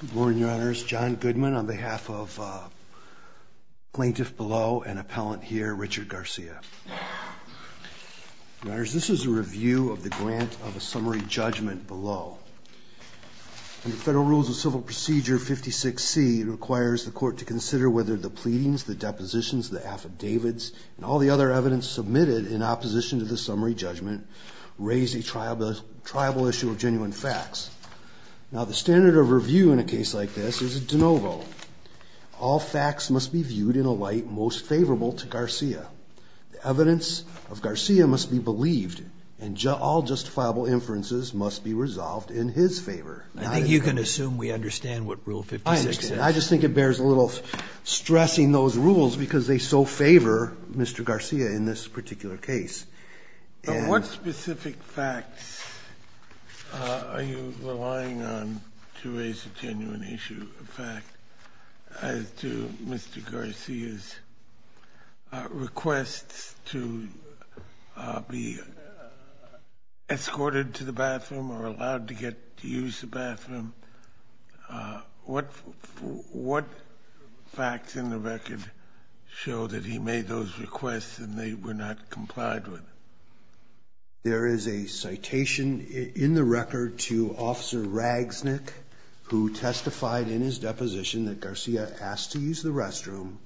Good morning, Your Honors. John Goodman on behalf of plaintiff below and appellant here, Richard Garcia. Your Honors, this is a review of the grant of a summary judgment below. The Federal Rules of Civil Procedure 56C requires the court to consider whether the pleadings, the depositions, the affidavits, and all the other evidence submitted in opposition to the summary judgment raise a triable issue of genuine facts. Now the standard of review in a case like this is a de novo. All facts must be viewed in a light most favorable to Garcia. The evidence of Garcia must be believed and all justifiable inferences must be resolved in his favor. I think you can assume we understand what Rule 56 is. I just think it bears a little stressing those rules because they so favor Mr. Garcia in this particular case. What specific facts are you relying on to raise a genuine issue of fact as to Mr. Garcia's requests to be escorted to the bathroom or allowed to get to use the bathroom? What facts in the record show that he made those requests and they were not complied with? There is a citation in the record to Officer Ragsnick who testified in his deposition that Garcia asked to use the restroom,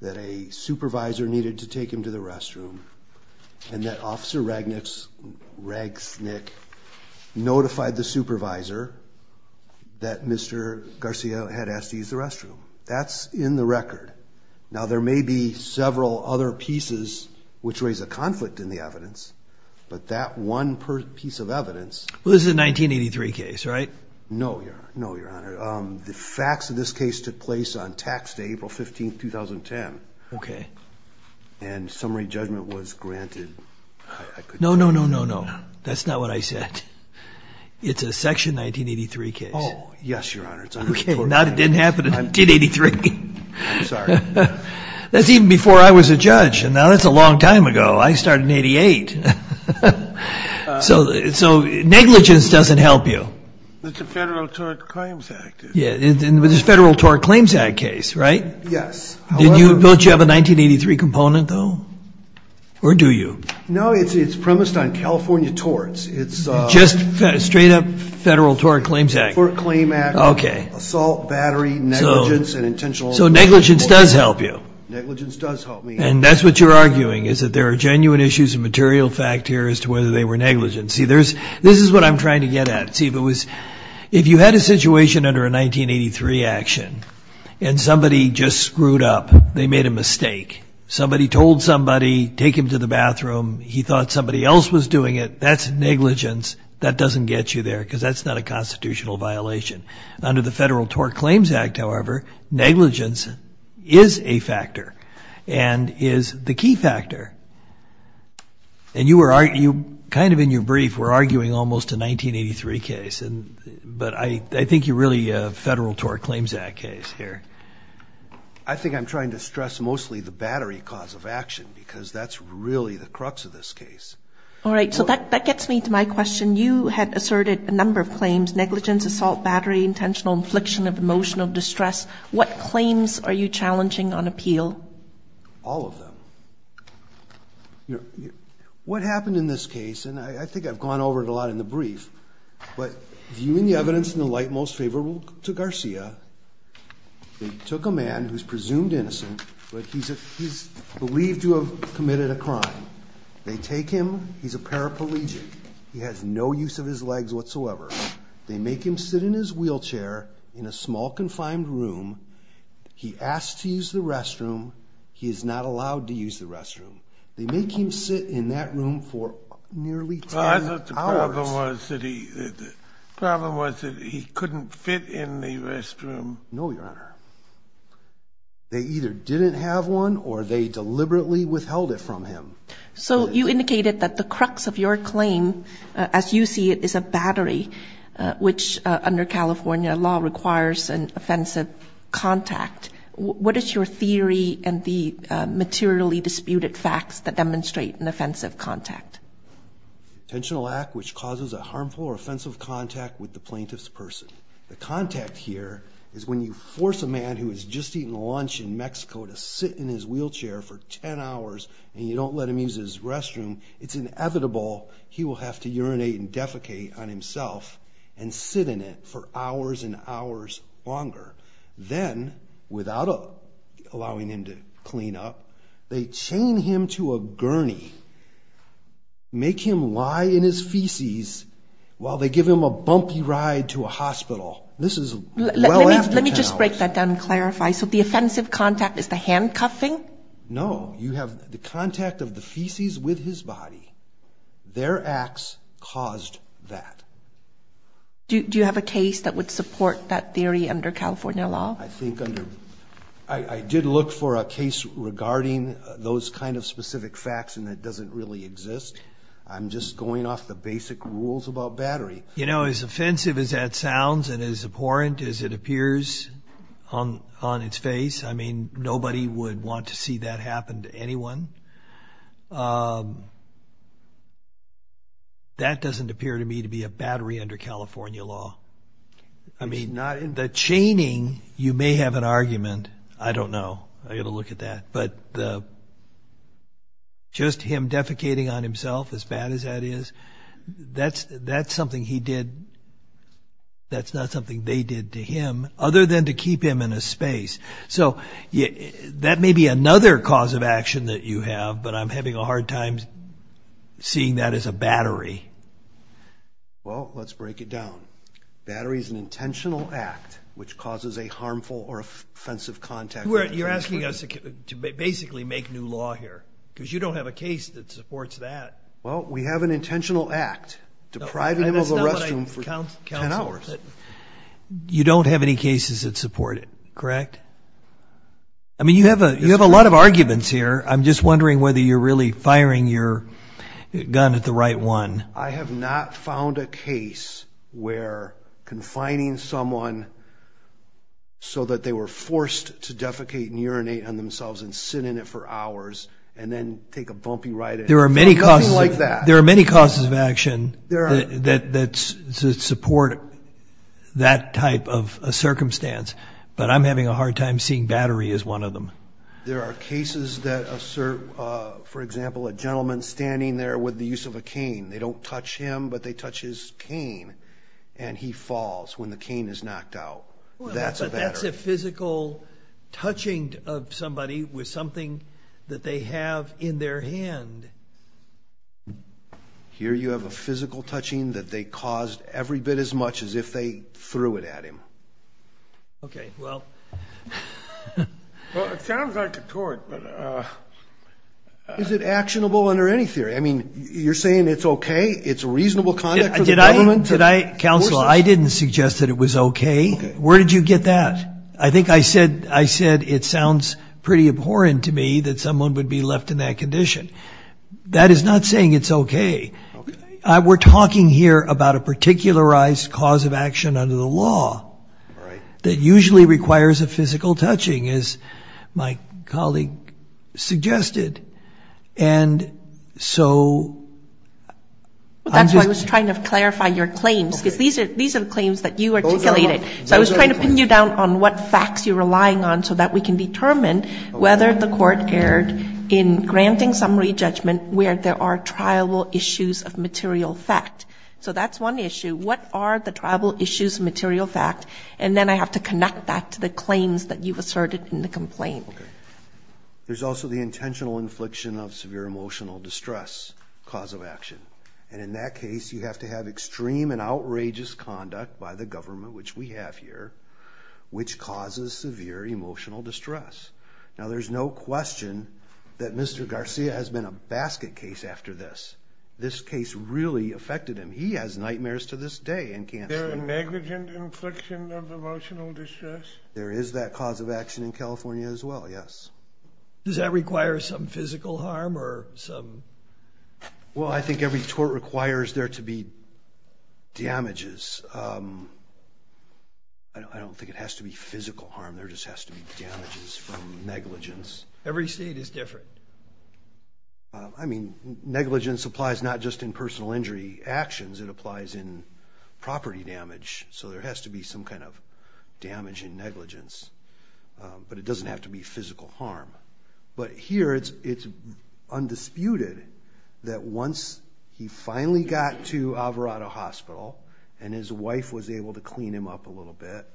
that a supervisor needed to take him to the restroom, and that Officer Ragsnick notified the supervisor that Mr. Garcia had asked to use the restroom. That's in the record. Now there may be several other pieces which raise a conflict in the evidence, but that one piece of evidence... This is a 1983 case, right? No, your honor. The facts of this case took place on tax day, April 15, 2010. Okay. And summary judgment was granted. No, no, no, no, no. That's not what I said. It's a section 1983 case. Oh, yes, your honor. Okay, now it didn't happen in 1983. I'm sorry. That's even before I was a judge, and now that's a long time ago. I started in 88. So negligence doesn't help you. It's a Federal Tort Claims Act. Yeah, it's a Federal Tort Claims Act case, right? Yes. Don't you have a 1983 component, though? Or do you? No, it's premised on California torts. It's just straight-up Federal Tort Claims Act. Tort Claim Act. Okay. Assault, battery, negligence, and intentional... So negligence does help you. Negligence does help me. And that's what you're arguing, is that there are genuine issues of material fact here as to whether they were negligent. See, there's... This is what I'm trying to get at. See, if it was... If you had a situation under a 1983 action, and somebody just screwed up, they made a mistake. Somebody told somebody, take him to the bathroom, he thought somebody else was doing it. That's negligence. That doesn't get you there, because that's not a constitutional violation. Under the Federal Tort Claims Act, however, negligence is a factor, and is the key factor. And you were arguing, kind of in your brief, we're arguing almost a 1983 case, and... But I think you're really a Federal Tort Claims Act case here. I think I'm trying to stress mostly the battery cause of action, because that's really the crux of this case. All right, so that gets me to my question. You had asserted a number of claims. Negligence, assault, battery, intentional infliction of emotional distress. What claims are you challenging on appeal? All of them. You know, what happened in this case, and I think I've gone over it a lot in the brief, but viewing the evidence in the light most favorable to Garcia, they took a man who's presumed innocent, but he's believed to have committed a crime. They take him. He's a paraplegic. He has no use of his legs whatsoever. They make him sit in his wheelchair in a small confined room. He asked to use the restroom. He is not allowed to use the restroom. They make him sit in that room for nearly 10 hours. The problem was that he couldn't fit in the restroom. No, Your Honor. They either didn't have one or they deliberately withheld it from him. So you indicated that the crux of your claim, as you see it, is a battery, which under California law requires an offensive contact. What is your theory and the materially disputed facts that demonstrate an offensive contact? Intentional act which causes a harmful or offensive contact with the plaintiff's person. The contact here is when you force a man who is just eating lunch in Mexico to sit in his wheelchair for 10 hours, and you don't let him use his restroom. It's inevitable he will have to urinate and defecate on himself and sit in it for hours and hours longer. Then, without allowing him to clean up, they chain him to a gurney, make him lie in his feces while they give him a bumpy ride to a hospital. This is well after 10 hours. Let me just break that down and clarify. So the offensive contact is the handcuffing? No, you have the contact of the feces with his body. Their acts caused that. Do you have a case that would support that theory under California law? I did look for a case regarding those kind of specific facts and it doesn't really exist. I'm just going off the as abhorrent as it appears on its face. I mean, nobody would want to see that happen to anyone. That doesn't appear to me to be a battery under California law. I mean, the chaining, you may have an argument. I don't know. I got to look at that. But just him defecating on himself, as bad as that is, that's something he did. That's not something they did to him, other than to keep him in a space. So that may be another cause of action that you have, but I'm having a hard time seeing that as a battery. Well, let's break it down. Battery is an intentional act which causes a harmful or offensive contact. You're asking us to basically make new law here because you don't have a case that supports that. Well, we have an intentional act depriving him of the restroom for 10 hours. You don't have any cases that support it, correct? I mean, you have a lot of arguments here. I'm just wondering whether you're really firing your gun at the right one. I have not found a case where confining someone so that they were forced to defecate and urinate on themselves and sit in it for hours and then take a bumpy ride. There are many causes of action that support that type of a circumstance, but I'm having a hard time seeing battery as one of them. There are cases that assert, for example, a gentleman standing there with the use of a cane. They don't touch him, but they touch his cane, and he falls when the cane is knocked out. That's a battery. Here you have a physical touching of somebody with something that they have in their hand. Here you have a physical touching that they caused every bit as much as if they threw it at him. Okay, well... Well, it sounds like a tort, but... Is it actionable under any theory? I mean, you're saying it's okay? It's reasonable conduct for the government? Counsel, I didn't suggest that it was okay. Where did you get that? I think I said it sounds pretty abhorrent to me that someone would be left in that condition. That is not saying it's okay. We're talking here about a particularized cause of action under the law that usually requires a physical touching, as my colleague suggested. And so... Well, that's why I was trying to clarify your claims, because these are the claims that you articulated. So I was trying to pin you down on what facts you're relying on so that we can determine whether the court erred in granting summary judgment where there are triable issues of material fact. So that's one issue. What are the triable issues of material fact? And then I have to connect that to the claims that you've asserted in the complaint. There's also the intentional infliction of severe emotional distress cause of action. And in that case, you have to have extreme and outrageous conduct by the government, which we have here, which causes severe emotional distress. Now, there's no question that Mr. Garcia has been a basket case after this. This case really affected him. He has nightmares to this day and can't sleep. Is there a negligent infliction of emotional distress? There is that cause of action in California as well, yes. Does that require some physical harm or some... Well, I think every tort requires there to be damages. I don't think it has to be physical harm. There just has to be damages from negligence. Every state is different. I mean, negligence applies not just in personal injury actions. It applies in property damage. So there has to be some kind of damage and negligence, but it doesn't have to be physical harm. But here, it's undisputed that once he finally got to Alvarado Hospital and his wife was able to clean him up a little bit,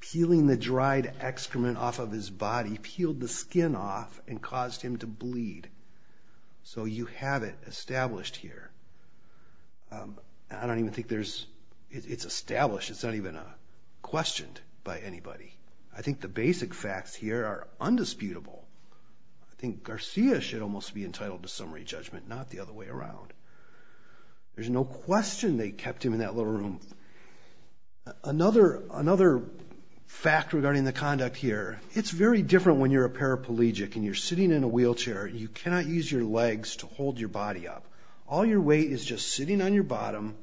peeling the dried excrement off of his body peeled the skin off and caused him to bleed. So you have it established here. I don't even think it's established. It's not even questioned by anybody. I think the basic facts here are undisputable. I think Garcia should almost be entitled to summary judgment, not the other way around. There's no question they kept him in that little room. Another fact regarding the conduct here. It's very different when you're a paraplegic and you're sitting in a wheelchair. You cannot use your legs to hold your body up. All your weight is just sitting on your bottom.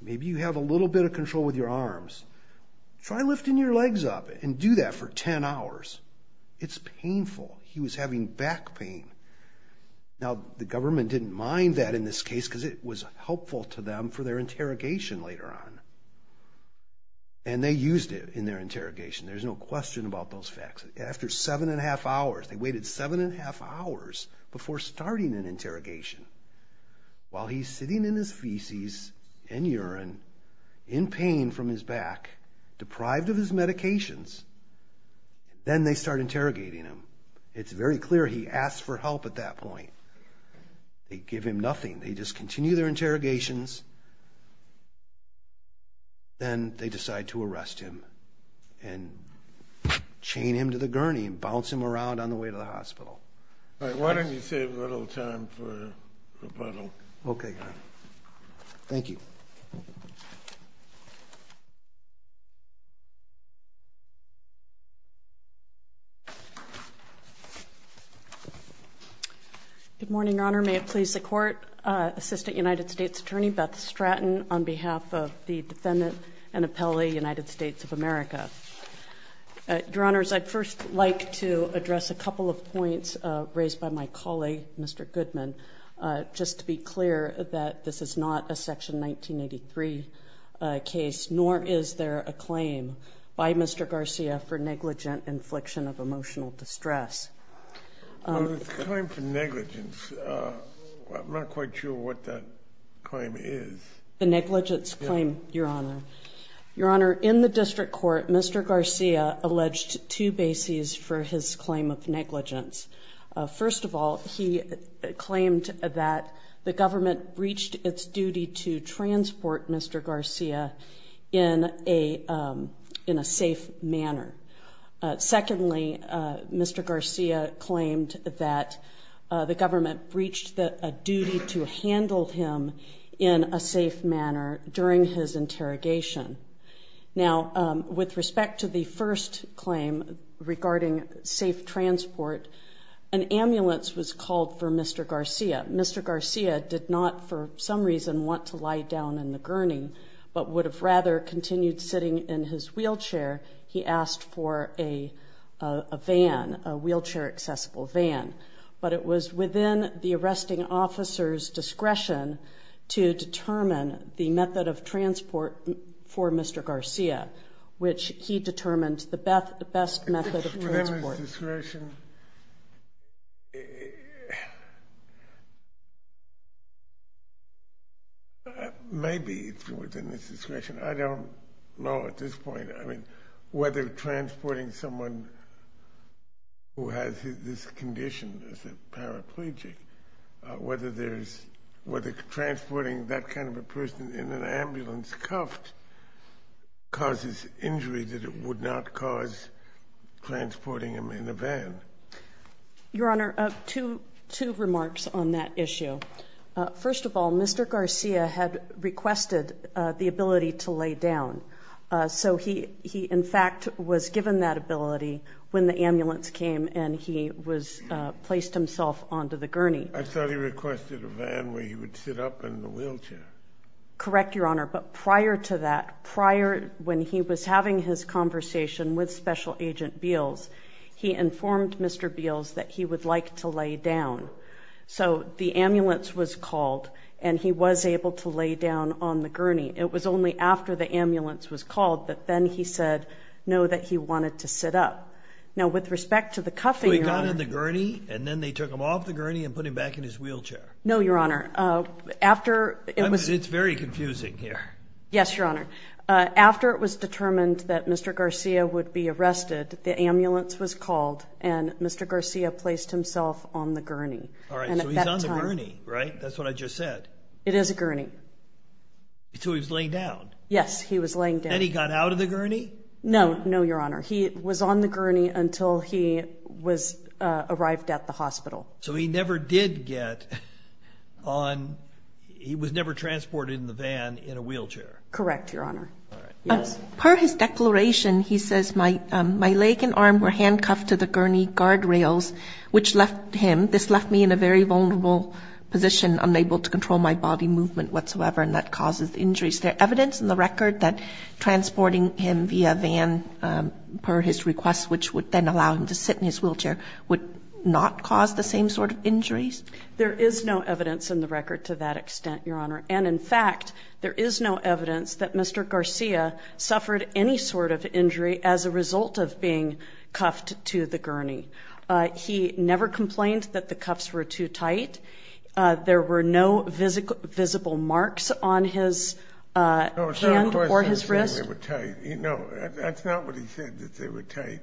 Maybe you have a little bit of control with your arms. Try lifting your legs up and do that for 10 hours. It's painful. He was having back pain. Now, the government didn't mind that in this case because it was helpful to them for their interrogation later on. And they used it in their interrogation. There's no question about those facts. After seven and a half hours, they waited seven and a half hours before starting an interrogation. While he's sitting in his feces and urine, in pain from his back, deprived of his medications, then they start interrogating him. It's very clear he asked for help at that point. They give him nothing. They just continue their interrogations. Then they decide to arrest him and chain him to the gurney and bounce him around on the way to the hospital. Why don't you save a little time for rebuttal? Okay. Thank you. Good morning, Your Honor. May it please the Court. Assistant United States Attorney Beth Stratton on behalf of the defendant and appellee, United States of America. Your Honors, I'd first like to address a couple of points raised by my colleague, Mr. Goodman, just to be clear that this is not a Section 1983 case, nor is there a claim by Mr. Garcia for negligent infliction of emotional distress. The claim for negligence, I'm not quite sure what that claim is. The negligence claim, Your Honor. Your Honor, in the district court, Mr. Garcia alleged two bases for his claim of negligence. First of all, he claimed that the government breached its duty to transport Mr. Garcia in a safe manner. Secondly, Mr. Garcia claimed that the government breached a duty to handle him in a safe manner during his interrogation. Now, with respect to the first claim regarding safe transport, an ambulance was called for Mr. Garcia. Mr. Garcia did not, for some reason, want to lie down in the gurney, but would have rather continued sitting in his wheelchair. He asked for a van, a wheelchair-accessible van. But it was within the arresting officer's discretion to determine the method of transport for Mr. Garcia, which he determined the best method of transport. Within his discretion? Maybe it's within his discretion. I don't know at this point, I mean, whether transporting someone who has this condition as a paraplegic, whether transporting that kind of a person in an ambulance cuffed causes injury that it would not cause transporting him in a van. Your Honor, two remarks on that issue. First of all, Mr. Garcia had requested the ability to lay down. So he, in fact, was given that ability when the ambulance came and he placed himself onto the gurney. I thought he requested a van where he would sit up in the wheelchair. Correct, Your Honor, but prior to that, prior when he was having his conversation with Special Agent Beals, he informed Mr. Beals that he would like to lay down. So the ambulance was called and he was able to lay down on the gurney. It was only after the ambulance was called that then he said no, that he wanted to sit up. Now, with respect to the cuffing, Your Honor. So he got on the gurney and then they took him off the gurney and put him back in his wheelchair? No, Your Honor. It's very confusing here. Yes, Your Honor. After it was determined that Mr. Garcia would be arrested, the ambulance was called and Mr. Garcia placed himself on the gurney. All right, so he's on the gurney, right? That's what I just said. It is a gurney. So he was laying down? Yes, he was laying down. Then he got out of the gurney? No, no, Your Honor. He was on the gurney until he arrived at the hospital. So he never did get on, he was never transported in the van in a wheelchair? Correct, Your Honor. All right. Yes? Per his declaration, he says, my leg and arm were handcuffed to the gurney guard rails, which left him, this left me in a very vulnerable position, unable to control my body movement whatsoever, and that causes injuries. Is there evidence in the record that transporting him via van, per his request, which would then allow him to sit in his wheelchair, would not cause the same sort of injuries? There is no evidence in the record to that extent, Your Honor. And, in fact, there is no evidence that Mr. Garcia suffered any sort of injury as a result of being cuffed to the gurney. He never complained that the cuffs were too tight. There were no visible marks on his hand or his wrist. No, that's not what he said, that they were tight.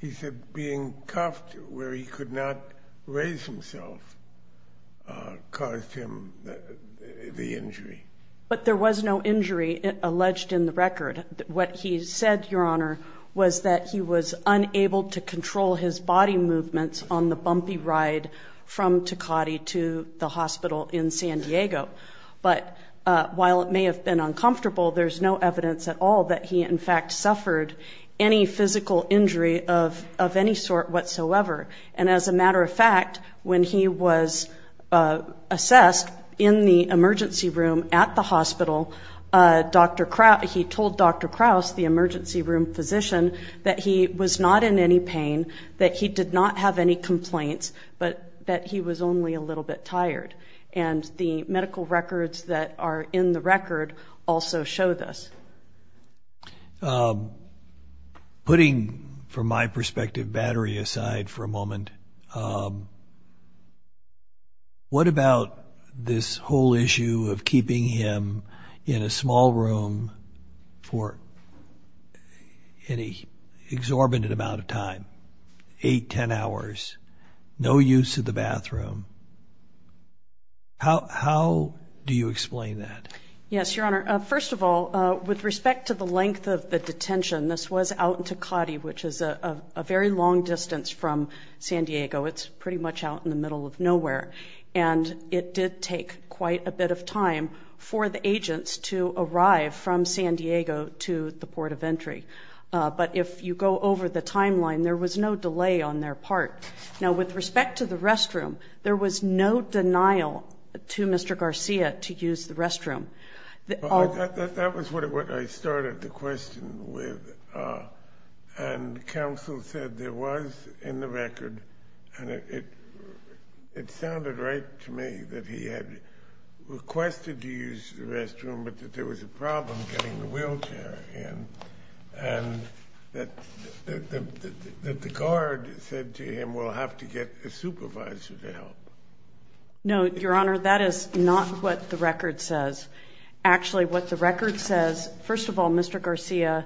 He said being cuffed where he could not raise himself caused him the injury. But there was no injury alleged in the record. What he said, Your Honor, was that he was unable to control his body movements on the bumpy ride from Tecate to the hospital in San Diego. But while it may have been uncomfortable, there's no evidence at all that he, in fact, suffered any physical injury of any sort whatsoever. And, as a matter of fact, when he was assessed in the emergency room at the hospital, he told Dr. Krause, the emergency room physician, that he was not in any pain, that he did not have any complaints, but that he was only a little bit tired. And the medical records that are in the record also show this. Putting, from my perspective, Battery aside for a moment, what about this whole issue of keeping him in a small room for an exorbitant amount of time, eight, ten hours, no use of the bathroom? How do you explain that? Yes, Your Honor. First of all, with respect to the length of the detention, this was out in Tecate, which is a very long distance from San Diego. It's pretty much out in the middle of nowhere. And it did take quite a bit of time for the agents to arrive from San Diego to the port of entry. But if you go over the timeline, there was no delay on their part. Now, with respect to the restroom, there was no denial to Mr. Garcia to use the restroom. That was what I started the question with, and counsel said there was in the record, and it sounded right to me that he had requested to use the restroom, but that there was a problem getting the wheelchair in, and that the guard said to him, we'll have to get a supervisor to help. No, Your Honor, that is not what the record says. Actually, what the record says, first of all, Mr. Garcia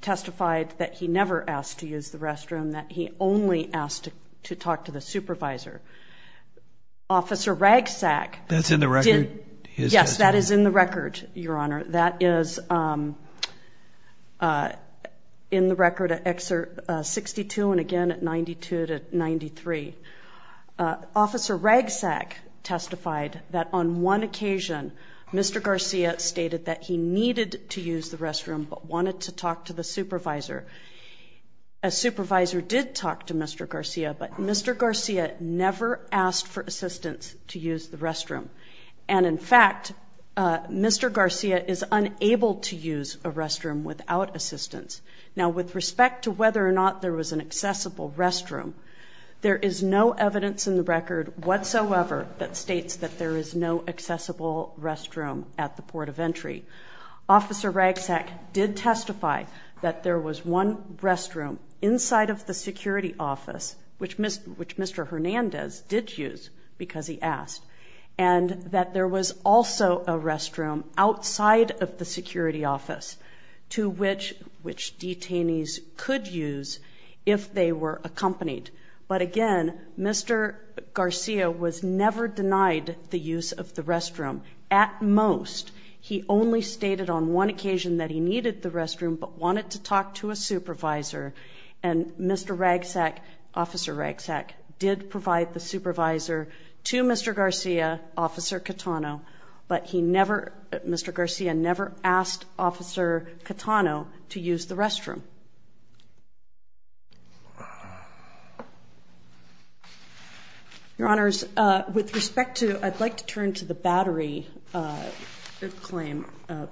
testified that he never asked to use the restroom, that he only asked to talk to the supervisor. Officer Ragsack. That's in the record? Yes, that is in the record, Your Honor. That is in the record at Excerpt 62 and again at 92 to 93. Officer Ragsack testified that on one occasion Mr. Garcia stated that he needed to use the restroom but wanted to talk to the supervisor. A supervisor did talk to Mr. Garcia, but Mr. Garcia never asked for assistance to use the restroom. And, in fact, Mr. Garcia is unable to use a restroom without assistance. Now, with respect to whether or not there was an accessible restroom, there is no evidence in the record whatsoever that states that there is no accessible restroom at the port of entry. Officer Ragsack did testify that there was one restroom inside of the security office, which Mr. Hernandez did use because he asked, and that there was also a restroom outside of the security office to which detainees could use if they were accompanied. But, again, Mr. Garcia was never denied the use of the restroom. At most, he only stated on one occasion that he needed the restroom but wanted to talk to a supervisor. And Mr. Ragsack, Officer Ragsack, did provide the supervisor to Mr. Garcia, Officer Catano, but he never, Mr. Garcia never asked Officer Catano to use the restroom. Your Honors, with respect to, I'd like to turn to the battery claim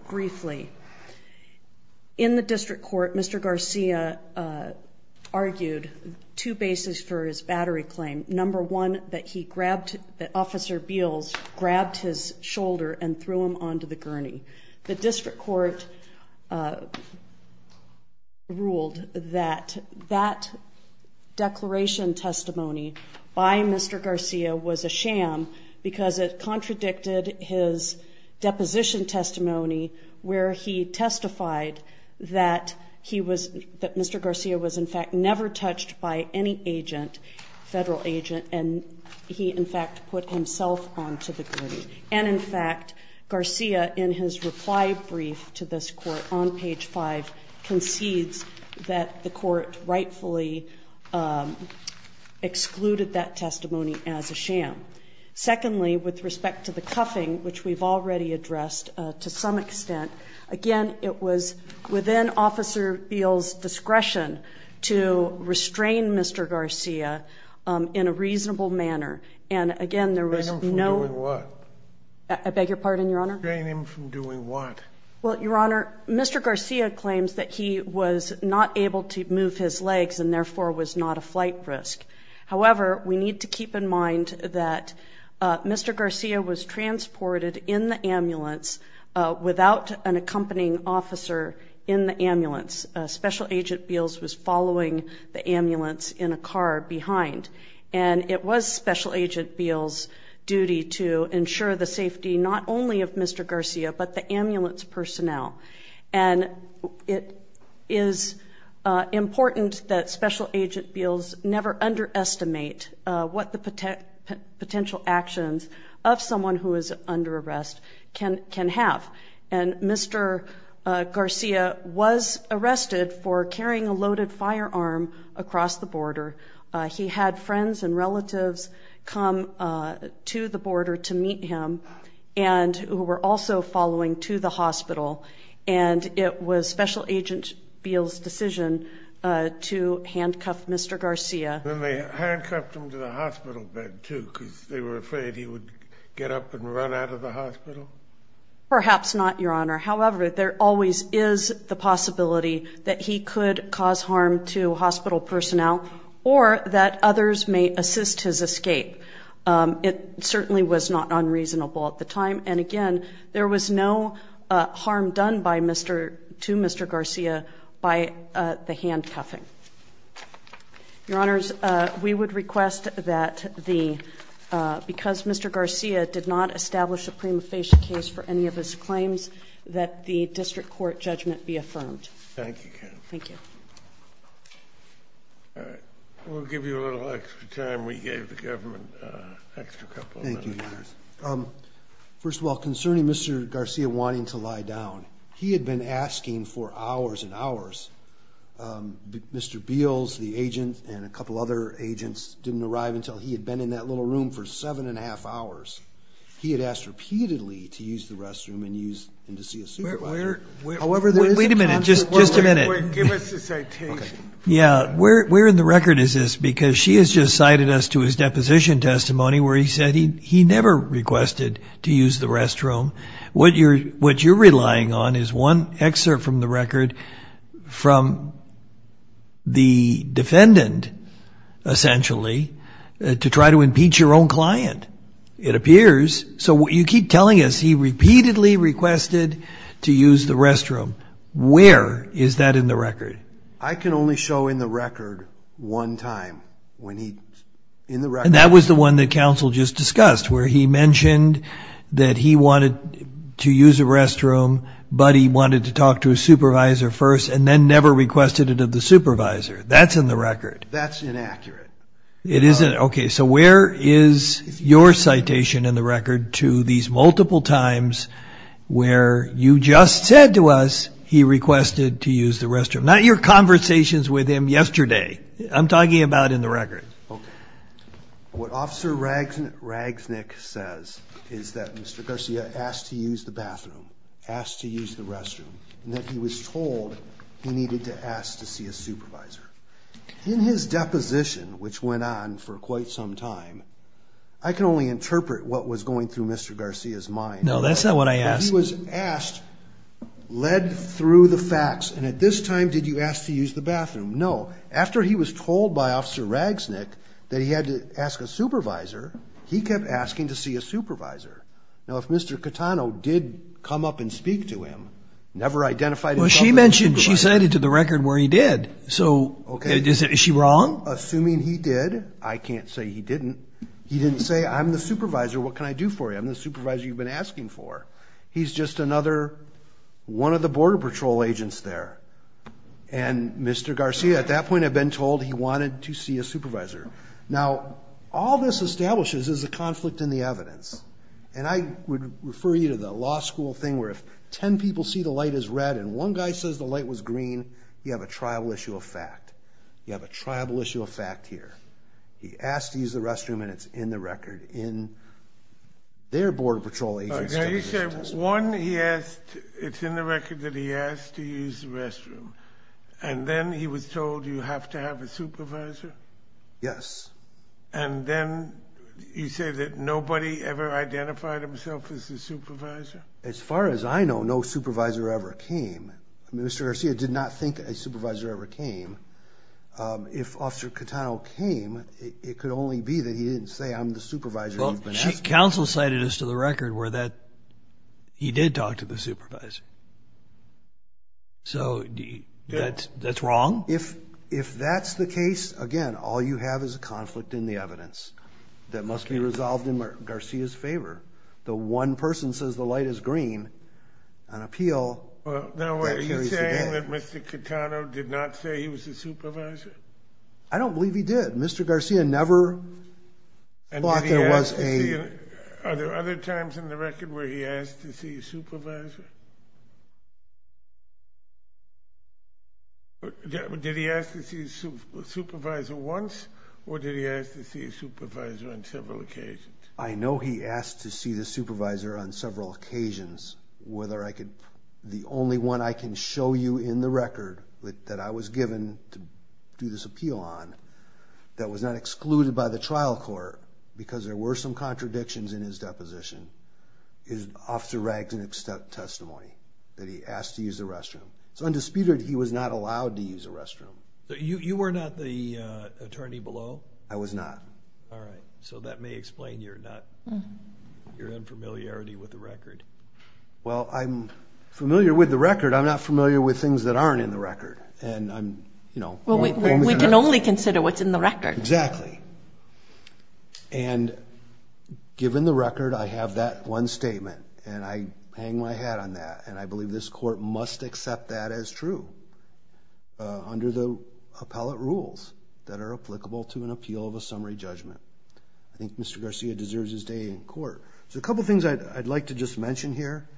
briefly. In the district court, Mr. Garcia argued two bases for his battery claim. Number one, that he grabbed, that Officer Beals grabbed his shoulder and threw him onto the gurney. The district court ruled that that declaration testimony by Mr. Garcia was a sham because it contradicted his deposition testimony where he testified that he was, that Mr. Garcia was in fact never touched by any agent, federal agent, and he in fact put himself onto the gurney. And, in fact, Garcia, in his reply brief to this court on page five, concedes that the court rightfully excluded that testimony as a sham. Secondly, with respect to the cuffing, which we've already addressed to some extent, again, it was within Officer Beals' discretion to restrain Mr. Garcia in a reasonable manner. And, again, there was no- Restrain him from doing what? I beg your pardon, Your Honor? Restrain him from doing what? Well, Your Honor, Mr. Garcia claims that he was not able to move his legs and, therefore, was not a flight risk. However, we need to keep in mind that Mr. Garcia was transported in the ambulance without an accompanying officer in the ambulance. Special Agent Beals was following the ambulance in a car behind. And it was Special Agent Beals' duty to ensure the safety not only of Mr. Garcia but the ambulance personnel. And it is important that Special Agent Beals never underestimate what the potential actions of someone who is under arrest can have. And Mr. Garcia was arrested for carrying a loaded firearm across the border. He had friends and relatives come to the border to meet him and who were also following to the hospital. And it was Special Agent Beals' decision to handcuff Mr. Garcia. And they handcuffed him to the hospital bed, too, because they were afraid he would get up and run out of the hospital? Perhaps not, Your Honor. However, there always is the possibility that he could cause harm to hospital personnel or that others may assist his escape. It certainly was not unreasonable at the time. And, again, there was no harm done to Mr. Garcia by the handcuffing. Your Honors, we would request that because Mr. Garcia did not establish a prima facie case for any of his claims, that the district court judgment be affirmed. Thank you, counsel. Thank you. All right. We'll give you a little extra time. We gave the government an extra couple of minutes. Thank you, Your Honors. First of all, concerning Mr. Garcia wanting to lie down, he had been asking for hours and hours. Mr. Beals, the agent, and a couple other agents didn't arrive until he had been in that little room for seven and a half hours. He had asked repeatedly to use the restroom and to see a supervisor. Wait a minute. Just a minute. Give us a second. Yeah. Where in the record is this? Because she has just cited us to his deposition testimony where he said he never requested to use the restroom. What you're relying on is one excerpt from the record from the defendant, essentially, to try to impeach your own client. It appears. So you keep telling us he repeatedly requested to use the restroom. Where is that in the record? I can only show in the record one time. And that was the one that counsel just discussed where he mentioned that he wanted to use a restroom, but he wanted to talk to a supervisor first and then never requested it of the supervisor. That's in the record. That's inaccurate. Okay. So where is your citation in the record to these multiple times where you just said to us he requested to use the restroom? Not your conversations with him yesterday. I'm talking about in the record. Okay. What Officer Ragsnick says is that Mr. Garcia asked to use the bathroom, asked to use the restroom, and that he was told he needed to ask to see a supervisor. In his deposition, which went on for quite some time, I can only interpret what was going through Mr. Garcia's mind. No, that's not what I asked. He was asked, led through the facts, and at this time did you ask to use the bathroom? No. After he was told by Officer Ragsnick that he had to ask a supervisor, he kept asking to see a supervisor. Now, if Mr. Catano did come up and speak to him, never identified himself as a supervisor. Well, she mentioned she cited to the record where he did. So is she wrong? Assuming he did. I can't say he didn't. He didn't say, I'm the supervisor, what can I do for you? I'm the supervisor you've been asking for. He's just another one of the Border Patrol agents there. And Mr. Garcia, at that point had been told he wanted to see a supervisor. Now, all this establishes is a conflict in the evidence. And I would refer you to the law school thing where if 10 people see the light is red and one guy says the light was green, you have a tribal issue of fact. You have a tribal issue of fact here. He asked to use the restroom, and it's in the record in their Border Patrol agency. Now, you said one, he asked, it's in the record that he asked to use the restroom. And then he was told you have to have a supervisor? Yes. And then you say that nobody ever identified himself as a supervisor? As far as I know, no supervisor ever came. Mr. Garcia did not think a supervisor ever came. If Officer Catano came, it could only be that he didn't say, I'm the supervisor you've been asking for. Counsel cited us to the record where that he did talk to the supervisor. So that's wrong? If that's the case, again, all you have is a conflict in the evidence that must be resolved in Garcia's favor. The one person says the light is green, an appeal that carries the day. Now, are you saying that Mr. Catano did not say he was a supervisor? I don't believe he did. But Mr. Garcia never thought there was a— Are there other times in the record where he asked to see a supervisor? Did he ask to see a supervisor once, or did he ask to see a supervisor on several occasions? I know he asked to see the supervisor on several occasions, the only one I can show you in the record that I was given to do this appeal on that was not excluded by the trial court because there were some contradictions in his deposition is Officer Ragsden's testimony that he asked to use the restroom. It's undisputed he was not allowed to use the restroom. You were not the attorney below? I was not. All right. So that may explain your unfamiliarity with the record. Well, I'm familiar with the record. I'm not familiar with things that aren't in the record. We can only consider what's in the record. Exactly. And given the record, I have that one statement, and I hang my hat on that, and I believe this court must accept that as true under the appellate rules that are applicable to an appeal of a summary judgment. I think Mr. Garcia deserves his day in court. So a couple things I'd like to just mention here.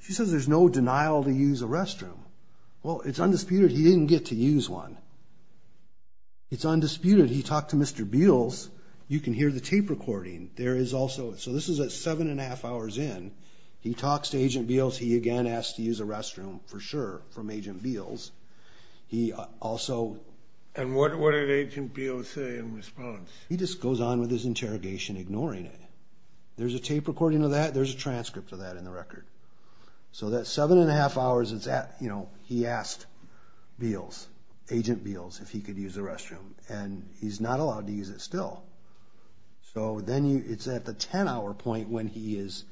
She says there's no denial to use a restroom. Well, it's undisputed he didn't get to use one. It's undisputed he talked to Mr. Beals. You can hear the tape recording. So this is at seven and a half hours in. He talks to Agent Beals. He, again, asks to use a restroom, for sure, from Agent Beals. And what did Agent Beals say in response? He just goes on with his interrogation, ignoring it. There's a tape recording of that. There's a transcript of that in the record. So that seven and a half hours, he asked Agent Beals if he could use a restroom, and he's not allowed to use it still. So then it's at the 10-hour point when he has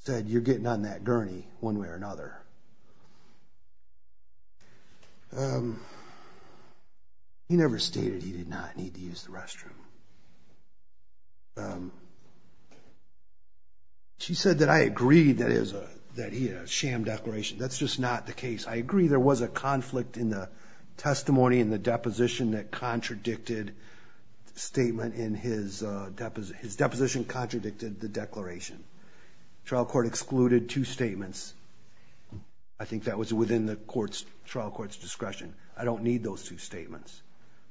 said, you're getting on that gurney one way or another. He never stated he did not need to use the restroom. She said that I agreed that he had a sham declaration. That's just not the case. I agree there was a conflict in the testimony and the deposition that contradicted the statement in his deposition. His deposition contradicted the declaration. Trial court excluded two statements. I think that was within the trial court's discretion. I don't need those two statements.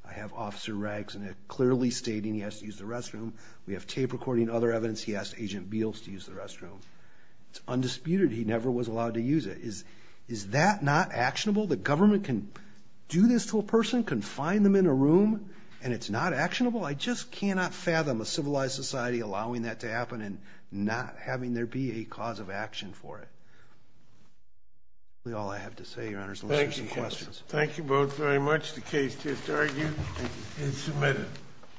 I have Officer Rags clearly stating he has to use the restroom. We have tape recording and other evidence he asked Agent Beals to use the restroom. It's undisputed he never was allowed to use it. Is that not actionable? The government can do this to a person, confine them in a room, and it's not actionable? I just cannot fathom a civilized society allowing that to happen and not having there be a cause of action for it. That's all I have to say, Your Honors, unless there's any questions. Thank you both very much. The case is argued and submitted.